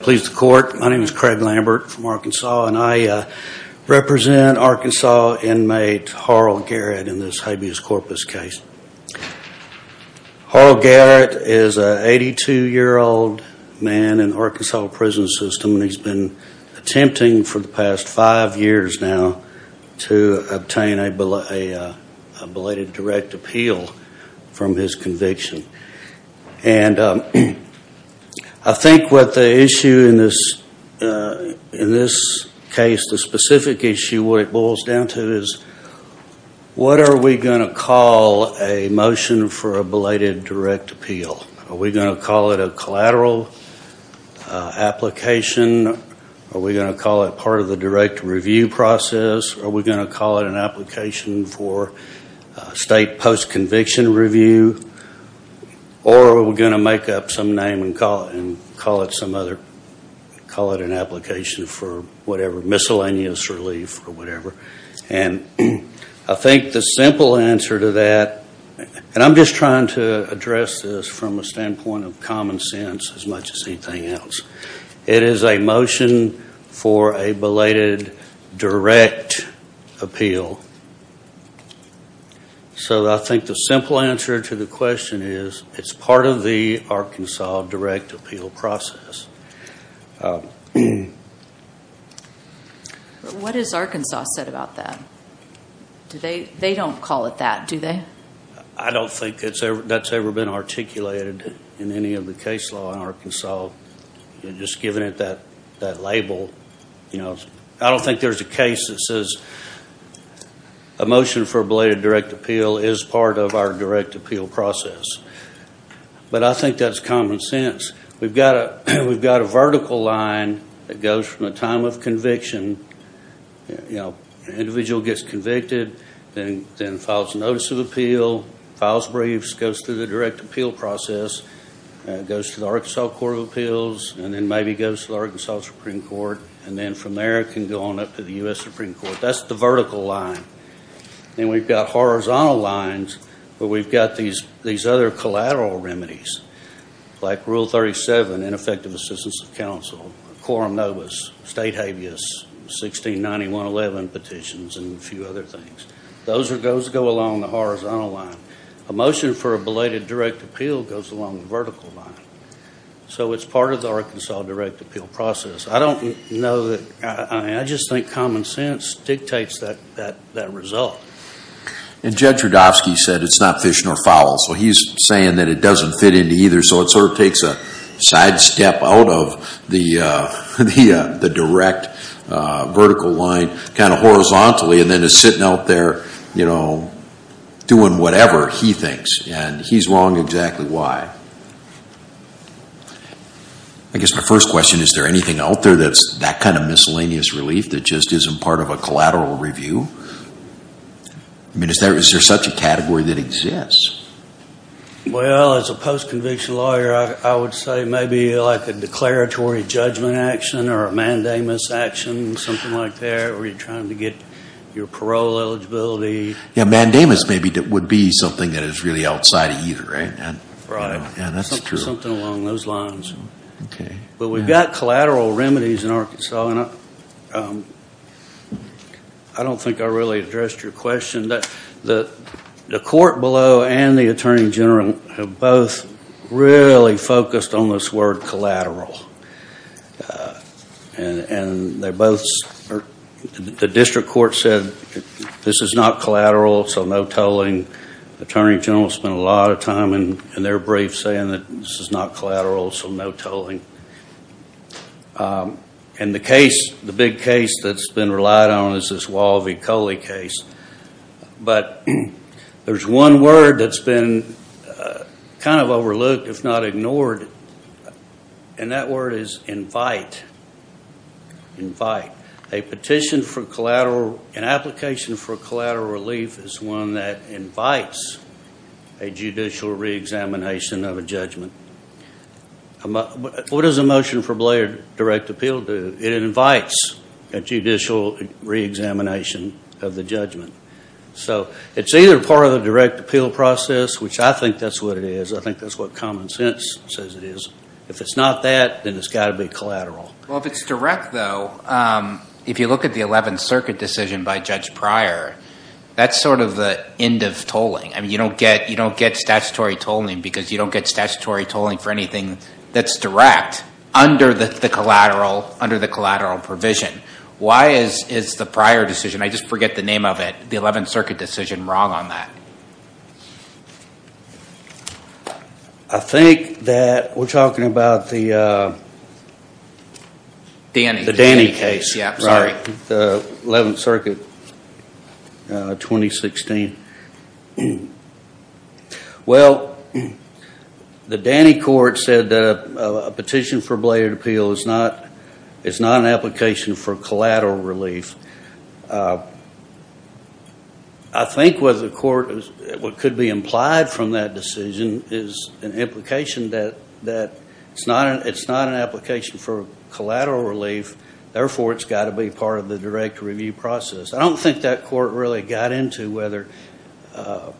Please the court. My name is Craig Lambert from Arkansas and I represent Arkansas inmate Harl Garrett in this habeas corpus case. Harl Garrett is an 82 year old man in the Arkansas prison system and he's been attempting for the past five years now to obtain a belated direct appeal from his conviction. And I think what the issue in this case, the specific issue where it boils down to is what are we going to call a motion for a belated direct appeal? Are we going to call it a collateral application? Are we going to call it part of the direct review process? Are we going to call it an application for a state post conviction review? Or are we going to make up some name and call it some other, call it an application for whatever, miscellaneous relief or whatever. And I think the simple answer to that, and I'm just trying to address this from a standpoint of common sense as much as anything else, it is a motion for a belated direct appeal. So I think the simple answer to the question is it's part of the Arkansas direct appeal process. What has Arkansas said about that? They don't call it that, do they? I don't think that's ever been articulated in any of the case law in Arkansas. Just given it that label, I don't think there's a case that says a motion for a belated direct appeal is part of our direct appeal process. But I think that's common sense. We've got a vertical line that goes from a time of conviction, an individual gets convicted, then files a notice of appeal, files briefs, goes through the direct appeal process, goes to the Arkansas Court of Appeals, and then maybe goes to the Arkansas Supreme Court, and then from there it can go on up to the U.S. Supreme Court. That's the vertical line. Then we've got horizontal lines where we've got these other collateral remedies, like Rule 37, ineffective assistance of counsel, quorum notice, state habeas, 1691-11 petitions, and a few other things. Those go along the horizontal line. A motion for a belated direct appeal goes along the vertical line. So it's part of the Arkansas direct appeal process. I just think common sense dictates that result. Judge Rudofsky said it's not fish nor fowl, so he's saying that it doesn't fit into either, so it sort of takes a sidestep out of the direct vertical line kind of horizontally and then is sitting out there, you know, doing whatever he thinks. And he's wrong exactly why. I guess my first question, is there anything out there that's that kind of miscellaneous relief that just isn't part of a collateral review? I mean, is there such a category that exists? Well, as a post-conviction lawyer, I would say maybe like a declaratory judgment action or a mandamus action, something like that, where you're trying to get your parole eligibility. Yeah, mandamus maybe would be something that is really outside of either, right? Right. Yeah, that's true. Something along those lines. Okay. But we've got collateral remedies in Arkansas, and I don't think I really addressed your question. The court below and the attorney general have both really focused on this word collateral. And they both, the district court said this is not collateral, so no tolling. Attorney general spent a lot of time in their brief saying that this is not collateral, so no tolling. And the case, the big case that's been relied on is this Wall v. Coley case. But there's one word that's been kind of overlooked, if not ignored, and that word is invite. Invite. A petition for collateral, an application for collateral relief is one that invites a judicial reexamination of a judgment. What does a motion for direct appeal do? It invites a judicial reexamination of the judgment. So it's either part of the direct appeal process, which I think that's what it is. I think that's what common sense says it is. If it's not that, then it's got to be collateral. Well, if it's direct, though, if you look at the 11th Circuit decision by Judge Pryor, that's sort of the end of tolling. I mean, you don't get statutory tolling because you don't get statutory tolling for anything that's direct under the collateral provision. Why is the prior decision, I just forget the name of it, the 11th Circuit decision wrong on that? I think that we're talking about the Danny case, right? The 11th Circuit, 2016. Well, the Danny court said that a petition for bladed appeal is not an application for collateral relief. I think what the court, what could be implied from that decision is an implication that it's not an application for collateral relief. Therefore, it's got to be part of the direct review process. I don't think that court really got into whether, I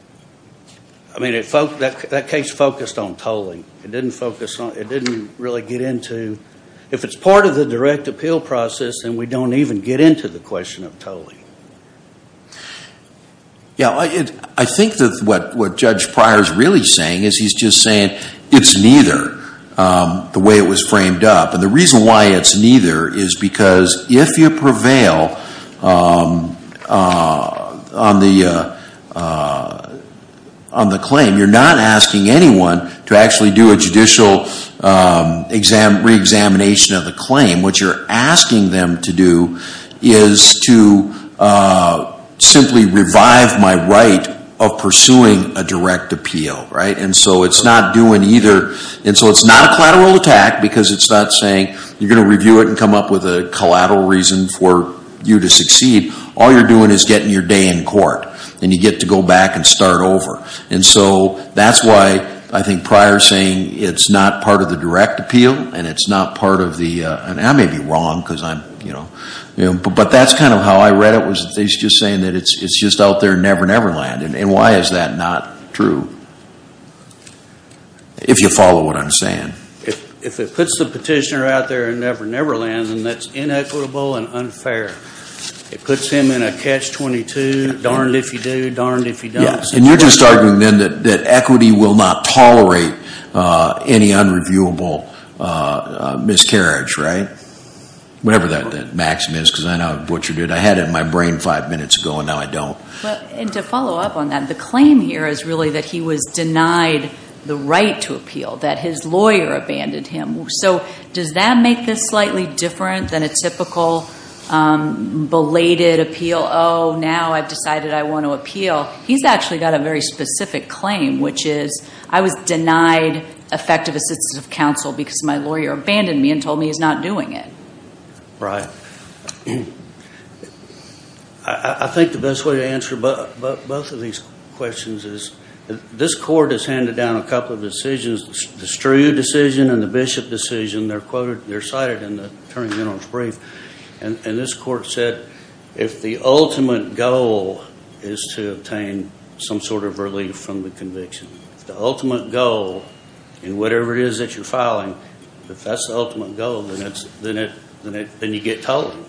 mean, that case focused on tolling. It didn't really get into, if it's part of the direct appeal process, then we don't even get into the question of tolling. Yeah, I think that what Judge Pryor is really saying is he's just saying it's neither the way it was framed up. And the reason why it's neither is because if you prevail on the claim, you're not asking anyone to actually do a judicial re-examination of the claim. What you're asking them to do is to simply revive my right of pursuing a direct appeal, right? And so it's not doing either. And so it's not a collateral attack because it's not saying you're going to review it and come up with a collateral reason for you to succeed. All you're doing is getting your day in court and you get to go back and start over. And so that's why I think Pryor's saying it's not part of the direct appeal and it's not part of the, and I may be wrong because I'm, you know, but that's kind of how I read it was that he's just saying that it's just out there and never, never land. And why is that not true? If you follow what I'm saying. If it puts the petitioner out there and never, never land, then that's inequitable and unfair. It puts him in a catch-22, darned if you do, darned if you don't. And you're just arguing then that equity will not tolerate any unreviewable miscarriage, right? Whatever that maxim is, because I know I've butchered it. I had it in my brain five minutes ago and now I don't. And to follow up on that, the claim here is really that he was denied the right to appeal, that his lawyer abandoned him. So does that make this slightly different than a typical belated appeal? Oh, now I've decided I want to appeal. He's actually got a very specific claim, which is, I was denied effective assistance of counsel because my lawyer abandoned me and told me he's not doing it. Right. I think the best way to answer both of these questions is, this court has handed down a couple of decisions, the Strew decision and the Bishop decision. They're cited in the Attorney General's brief. And this court said, if the ultimate goal is to obtain some sort of relief from the conviction, the ultimate goal in whatever it is that you're filing, if that's the ultimate goal, then you get told.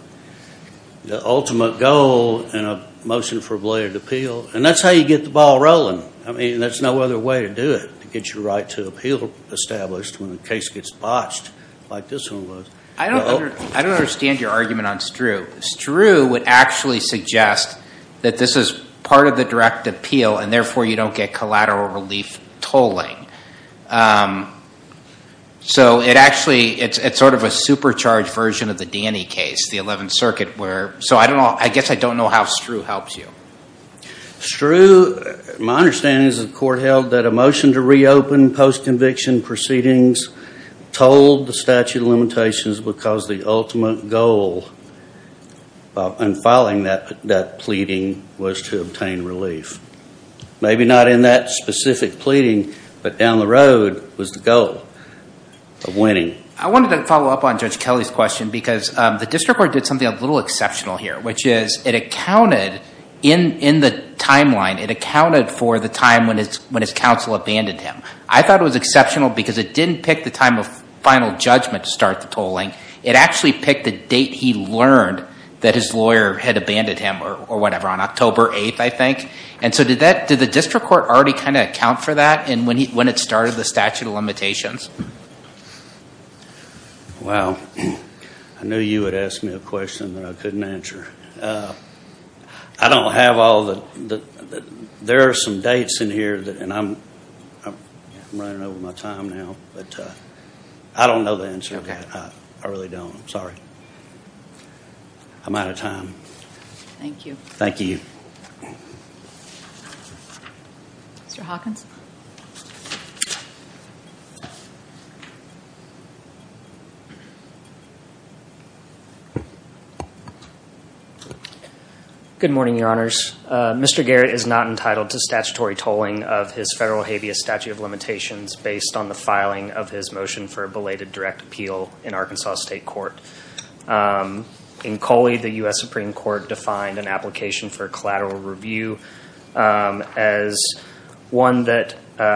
The ultimate goal in a motion for belated appeal, and that's how you get the ball rolling. I mean, there's no other way to do it, to get your right to appeal established when a case gets botched like this one was. I don't understand your argument on Strew. Strew would actually suggest that this is part of the direct appeal and therefore you don't get collateral relief tolling. So it actually, it's sort of a supercharged version of the Danny case, the 11th Circuit where, so I guess I don't know how Strew helps you. Strew, my understanding is the court held that a motion to reopen post-conviction proceedings told the statute of limitations because the ultimate goal in filing that pleading was to obtain relief. Maybe not in that specific pleading, but down the road was the goal of I wanted to follow up on Judge Kelly's question because the district court did something a little exceptional here, which is it accounted in the timeline, it accounted for the time when his counsel abandoned him. I thought it was exceptional because it didn't pick the time of final judgment to start the tolling. It actually picked the date he learned that his lawyer had abandoned him or whatever, on October 8th, I think. And so did the district court already kind of account for that when it started the statute of limitations? Wow. I knew you would ask me a question that I couldn't answer. I don't have all the, there are some dates in here that, and I'm running over my time now, but I don't know the answer. I really don't. I'm sorry. I'm out of time. Thank you. Mr. Hawkins. Good morning, Your Honors. Mr. Garrett is not entitled to statutory tolling of his federal habeas statute of limitations based on the filing of his motion for belated direct appeal in Arkansas State Court. In Coley, the U.S. Supreme Court defined an application for collateral review as one that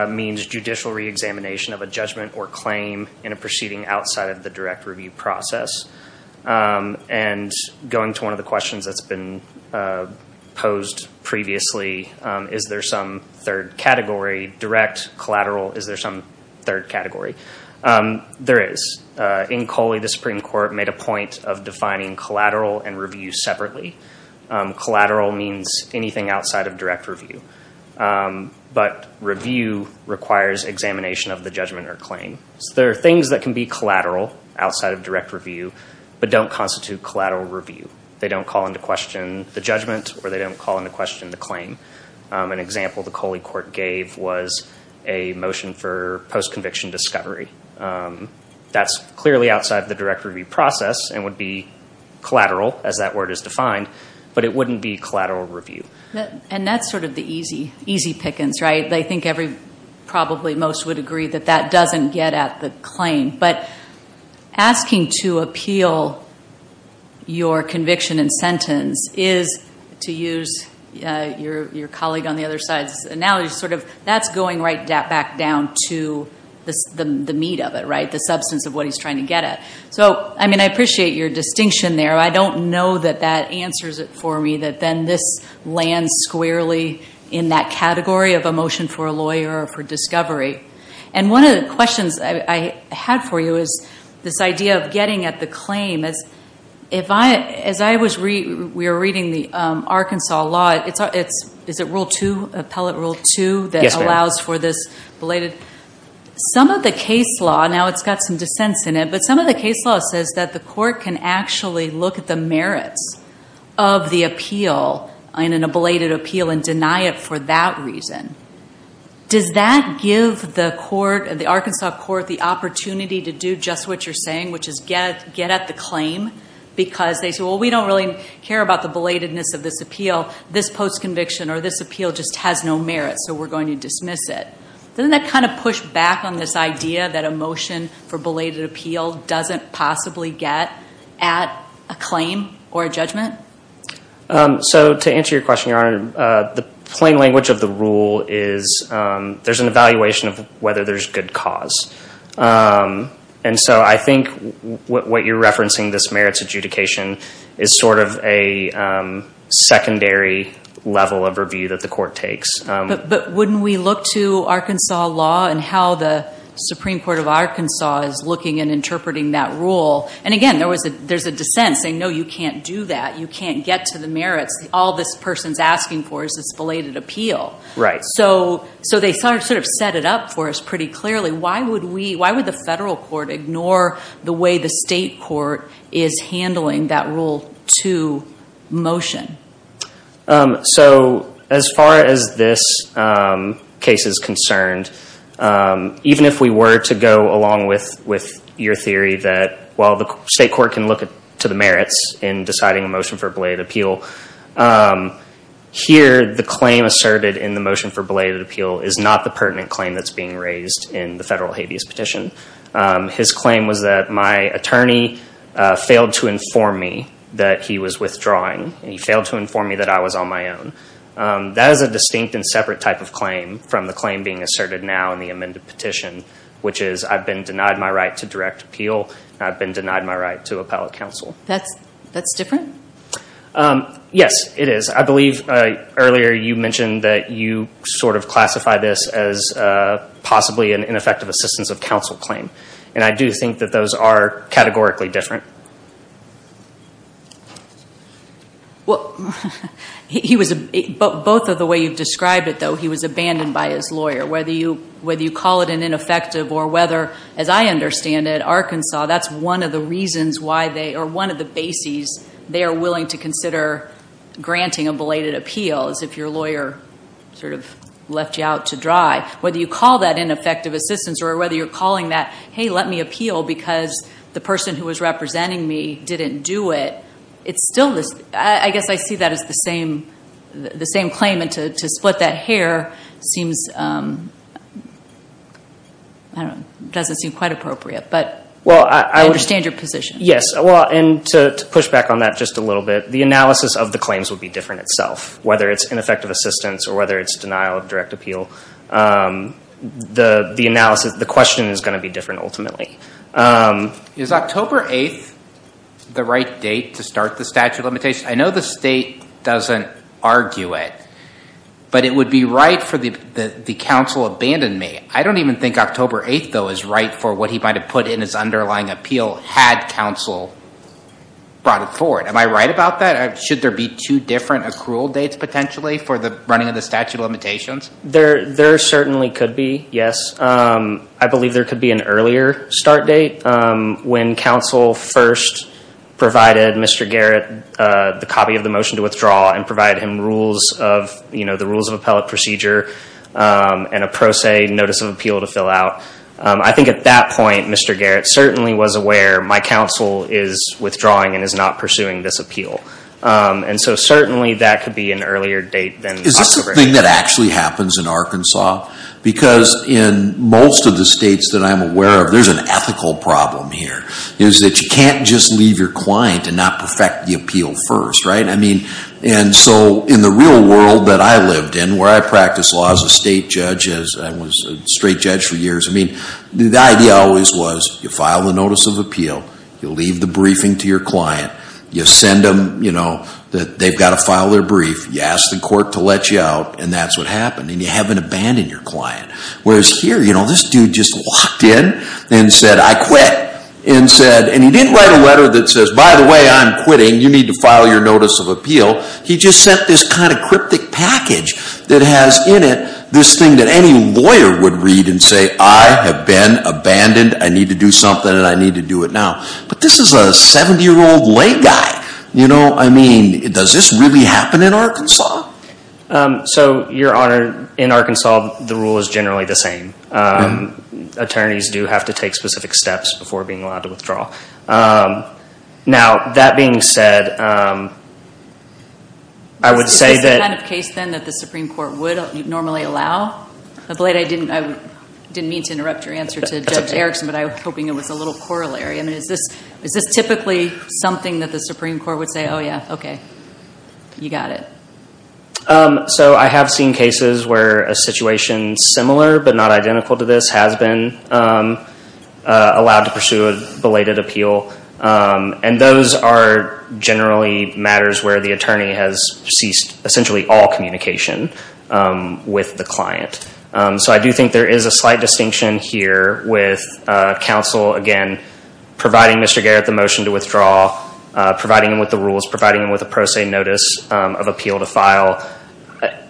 means judicial reexamination of a judgment or claim in a proceeding outside of the direct review process. And going to one of the questions that's been posed previously, is there some third category, direct, collateral, is there some third category? There is. In Coley, the Supreme Court made a point of defining collateral and review separately. Collateral means anything outside of direct review. But review requires examination of the judgment or claim. There are things that can be collateral outside of direct review, but don't constitute collateral review. They don't call into question the judgment or they don't call into question the claim. An example the Coley court gave was a motion for post-conviction discovery. That's clearly outside of the direct review process and would be collateral as that word is defined, but it wouldn't be collateral review. And that's sort of the easy pickings, right? I think probably most would agree that that doesn't get at the claim. But asking to appeal your conviction and sentence is, to use your colleague on the other side's analogy, sort of that's going right back down to the meat of it, right? The substance of what he's trying to get at. So, I mean, I appreciate your distinction there. I don't know that that answers it for me, that then this lands squarely in that category of a motion for a lawyer or for discovery. And one of the questions I had for you is this idea of getting at the claim. As I was reading, we were reading the Arkansas law, is it Rule 2, Appellate Rule 2, that allows for this belated? Some of the case law, now it's got some dissents in it, but some of the case law says that the court can actually look at the merits of the appeal, an ablated appeal, and deny it for that reason. Does that give the court, the Arkansas court, the opportunity to do just what you're saying, which is get at the claim? Because they say, well, we don't really care about the belatedness of this appeal. This post-conviction or this appeal just has no merit, so we're going to dismiss it. Doesn't that kind of push back on this idea that a motion for belated appeal doesn't possibly get at a claim or a judgment? So to answer your question, Your Honor, the plain language of the rule is there's an evaluation of whether there's good cause. And so I think what you're referencing, this merits adjudication, is sort of a secondary level of review that the court takes. But wouldn't we look to Arkansas law and how the Supreme Court of Arkansas is looking and interpreting that rule? And again, there's a dissent saying, no, you can't do that. You can't get to the merits. All this person's asking for is this belated appeal. So they sort of set it up for us pretty clearly. Why would the federal court ignore the way the state court is handling that Rule 2 motion? So as far as this case is concerned, even if we were to go along with your theory that while the state court can look to the merits in deciding a motion for belated appeal, here the claim asserted in the motion for belated appeal is not the pertinent claim that's being raised in the federal habeas petition. His claim was that my attorney failed to inform me that he was withdrawing, and he failed to inform me that I was on my own. That is a distinct and separate type of claim from the claim being asserted now in the amended petition, which is I've been denied my right to direct appeal, and I've been denied my right to appellate counsel. That's different? Yes, it is. I believe earlier you mentioned that you sort of classify this as possibly an ineffective assistance of counsel claim. And I do think that those are categorically different. Both of the way you've described it, though, he was abandoned by his lawyer. Whether you call it an ineffective or whether, as I understand it, Arkansas, that's one of the reasons why they, or one of the bases they are willing to consider granting a belated appeal is if your lawyer sort of left you out to dry. Whether you call that ineffective assistance or whether you're calling that, hey, let me appeal because the person who was representing me didn't do it, it's still this. I guess I see that as the same claim, and to split that hair seems, I don't know, doesn't seem quite appropriate. But I understand your position. Yes. And to push back on that just a little bit, the analysis of the claims would be different itself, whether it's ineffective assistance or whether it's denial of direct appeal. The question is going to be different ultimately. Is October 8th the right date to start the statute of limitations? I know the state doesn't argue it, but it would be right for the counsel abandoned me. I don't even think October 8th, though, is right for what he might have put in his underlying appeal had counsel brought it forward. Am I right about that? Should there be two different accrual dates potentially for the running of the statute of limitations? There certainly could be, yes. I believe there could be an earlier start date when counsel first provided Mr. Garrett the copy of the motion to withdraw and provided him the rules of appellate procedure and a pro se notice of appeal to fill out. I think at that point Mr. Garrett certainly was aware my counsel is withdrawing and is not pursuing this appeal. And so certainly that could be an earlier date than October 8th. The other thing that actually happens in Arkansas, because in most of the states that I'm aware of there's an ethical problem here, is that you can't just leave your client and not perfect the appeal first. And so in the real world that I lived in where I practiced law as a state judge and was a straight judge for years, the idea always was you file the notice of appeal, you leave the briefing to your client, you send them that they've got to let you out, and that's what happened. And you haven't abandoned your client. Whereas here, this dude just walked in and said, I quit. And he didn't write a letter that says, by the way, I'm quitting, you need to file your notice of appeal. He just sent this kind of cryptic package that has in it this thing that any lawyer would read and say, I have been abandoned, I need to do something and I need to do it now. But this is a 70-year-old late guy. I mean, does this really happen in Arkansas? So your Honor, in Arkansas the rule is generally the same. Attorneys do have to take specific steps before being allowed to withdraw. Now, that being said, I would say that... Is this the kind of case then that the Supreme Court would normally allow? I'm afraid I didn't mean to interrupt your answer to Judge Erickson, but I was hoping it was a little corollary. Is this typically something that the Supreme Court would say, oh yeah, okay, you got it. So I have seen cases where a situation similar but not identical to this has been allowed to pursue a belated appeal. And those are generally matters where the attorney has ceased essentially all communication with the client. So I do think there is a slight distinction here with counsel, again, providing Mr. Garrett the motion to withdraw, providing him with the rules, providing him with a pro se notice of appeal to file.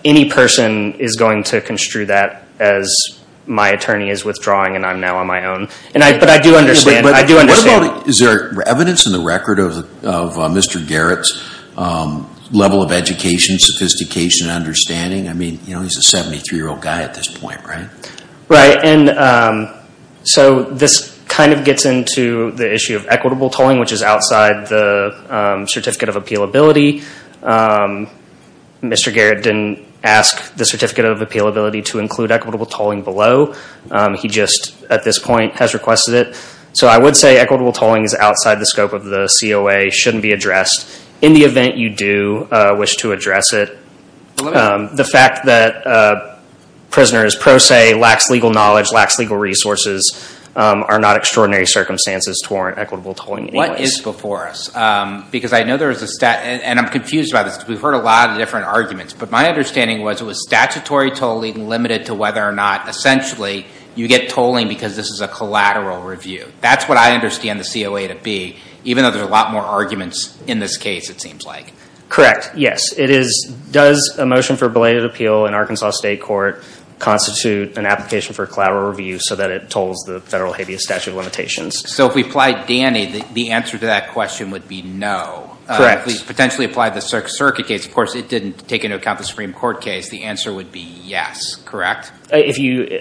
Any person is going to construe that as my attorney is withdrawing and I'm now on my own. But I do understand... Is there evidence in the record of Mr. Garrett's level of education, sophistication, understanding? I mean, he's a 73-year-old guy at this point, right? Right. And so this kind of gets into the issue of equitable tolling, which is outside the Certificate of Appealability. Mr. Garrett didn't ask the Certificate of Appealability to include equitable tolling below. He just, at this point, has requested it. So I would say equitable tolling is outside the scope of the COA, shouldn't be addressed. In the fact that a prisoner is pro se, lacks legal knowledge, lacks legal resources, are not extraordinary circumstances to warrant equitable tolling anyways. What is before us? Because I know there is a stat, and I'm confused about this because we've heard a lot of different arguments, but my understanding was it was statutory tolling limited to whether or not, essentially, you get tolling because this is a collateral review. That's what I understand the COA to be, even though there's a lot more arguments in this case, it seems like. Correct. Yes. It is, does a motion for belated appeal in Arkansas State Court constitute an application for collateral review so that it tolls the federal habeas statute of limitations? So if we applied Danny, the answer to that question would be no. Correct. If we potentially applied the Sixth Circuit case, of course, it didn't take into account the Supreme Court case. The answer would be yes. Correct? If you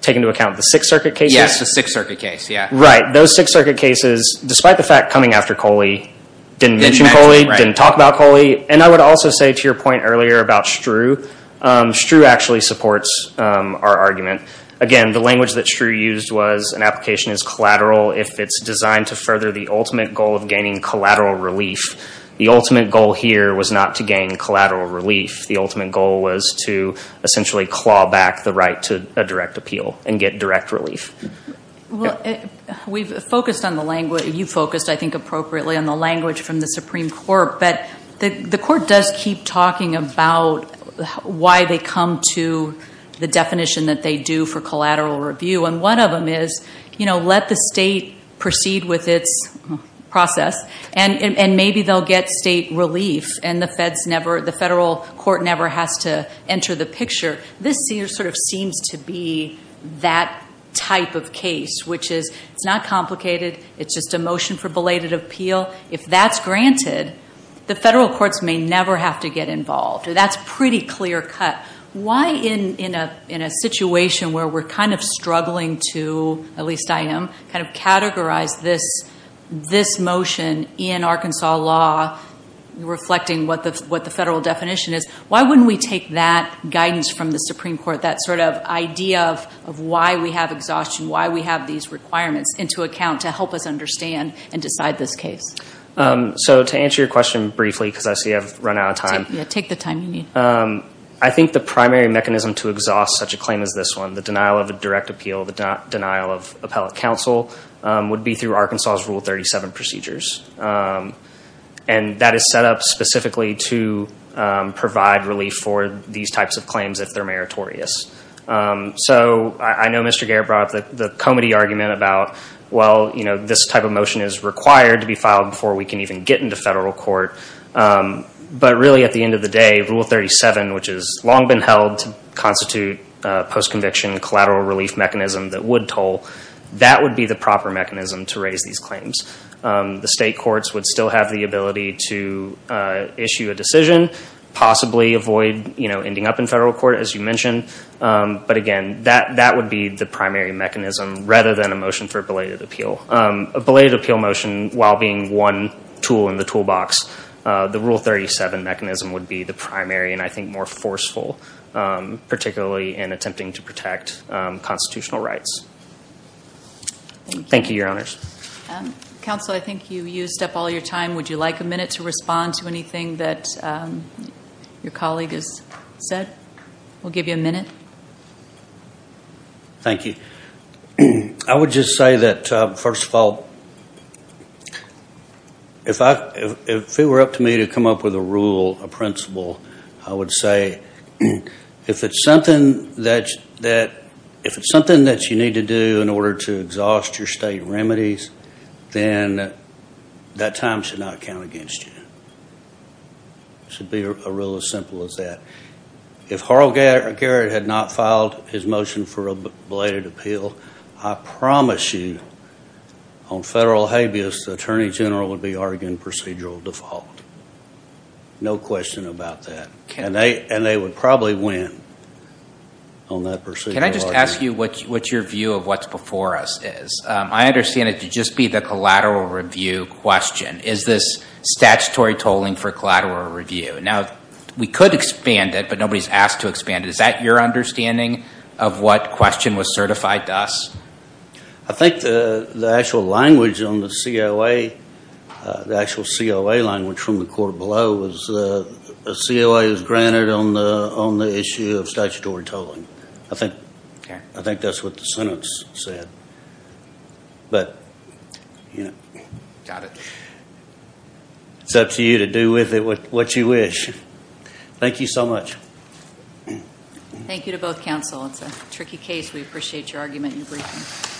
take into account the Sixth Circuit case? Yes, the Sixth Circuit case. Yeah. Right. Those Sixth Circuit cases, despite the fact coming after Coley, didn't mention Coley, didn't talk about Coley. And I would also say to your point earlier about Strue, Strue actually supports our argument. Again, the language that Strue used was an application is collateral if it's designed to further the ultimate goal of gaining collateral relief. The ultimate goal here was not to gain collateral relief. The ultimate goal was to essentially claw back the right to a direct appeal and get direct relief. Well, we've focused on the language, you've focused, I think, appropriately on the language from the Supreme Court. But the court does keep talking about why they come to the definition that they do for collateral review. And one of them is, you know, let the state proceed with its process and maybe they'll get state relief and the feds never, the federal court never has to enter the picture. This sort of seems to be that type of case, which is it's not complicated. It's just a motion for belated appeal. If that's granted, the federal courts may never have to get involved. That's pretty clear cut. Why in a situation where we're kind of struggling to, at least I am, kind of categorize this motion in Arkansas law, reflecting what the federal definition is, why wouldn't we take that guidance from the Supreme Court, that sort of idea of why we have exhaustion, why we have these requirements into account to help us understand and decide this case? So to answer your question briefly, because I see I've run out of time. Take the time you need. I think the primary mechanism to exhaust such a claim as this one, the denial of a direct And that is set up specifically to provide relief for these types of claims if they're meritorious. So I know Mr. Garrett brought up the comedy argument about, well, you know, this type of motion is required to be filed before we can even get into federal court. But really at the end of the day, Rule 37, which has long been held to constitute a postconviction collateral relief mechanism that would toll, that would be the proper mechanism to raise these claims. The state courts would still have the ability to issue a decision, possibly avoid ending up in federal court, as you mentioned. But again, that would be the primary mechanism rather than a motion for a belated appeal. A belated appeal motion, while being one tool in the toolbox, the Rule 37 mechanism would be the primary and I think more forceful, particularly in attempting to protect constitutional rights. Thank you, Your Honors. Counsel, I think you used up all your time. Would you like a minute to respond to anything that your colleague has said? We'll give you a minute. Thank you. I would just say that, first of all, if it were up to me to come up with a rule, a principle, I would say if it's something that you need to do in order to exhaust your state remedies, then that time should not count against you. It should be a rule as simple as that. If Harold Garrett had not filed his motion for a belated appeal, I promise you on federal habeas, the Attorney General would be arguing procedural default. No question about that. And they would probably win on that procedural argument. Can I just ask you what your view of what's before us is? I understand it to just be the collateral review question. Is this statutory tolling for collateral review? Now, we could expand it, but nobody's asked to expand it. Is that your understanding of what question was certified to us? I think the actual language on the COA, the actual COA language from the court below, was the COA was granted on the issue of statutory tolling. I think that's what the sentence said. Got it. It's up to you to do with it what you wish. Thank you so much. Thank you to both counsel. It's a tricky case. We appreciate your argument and your briefing.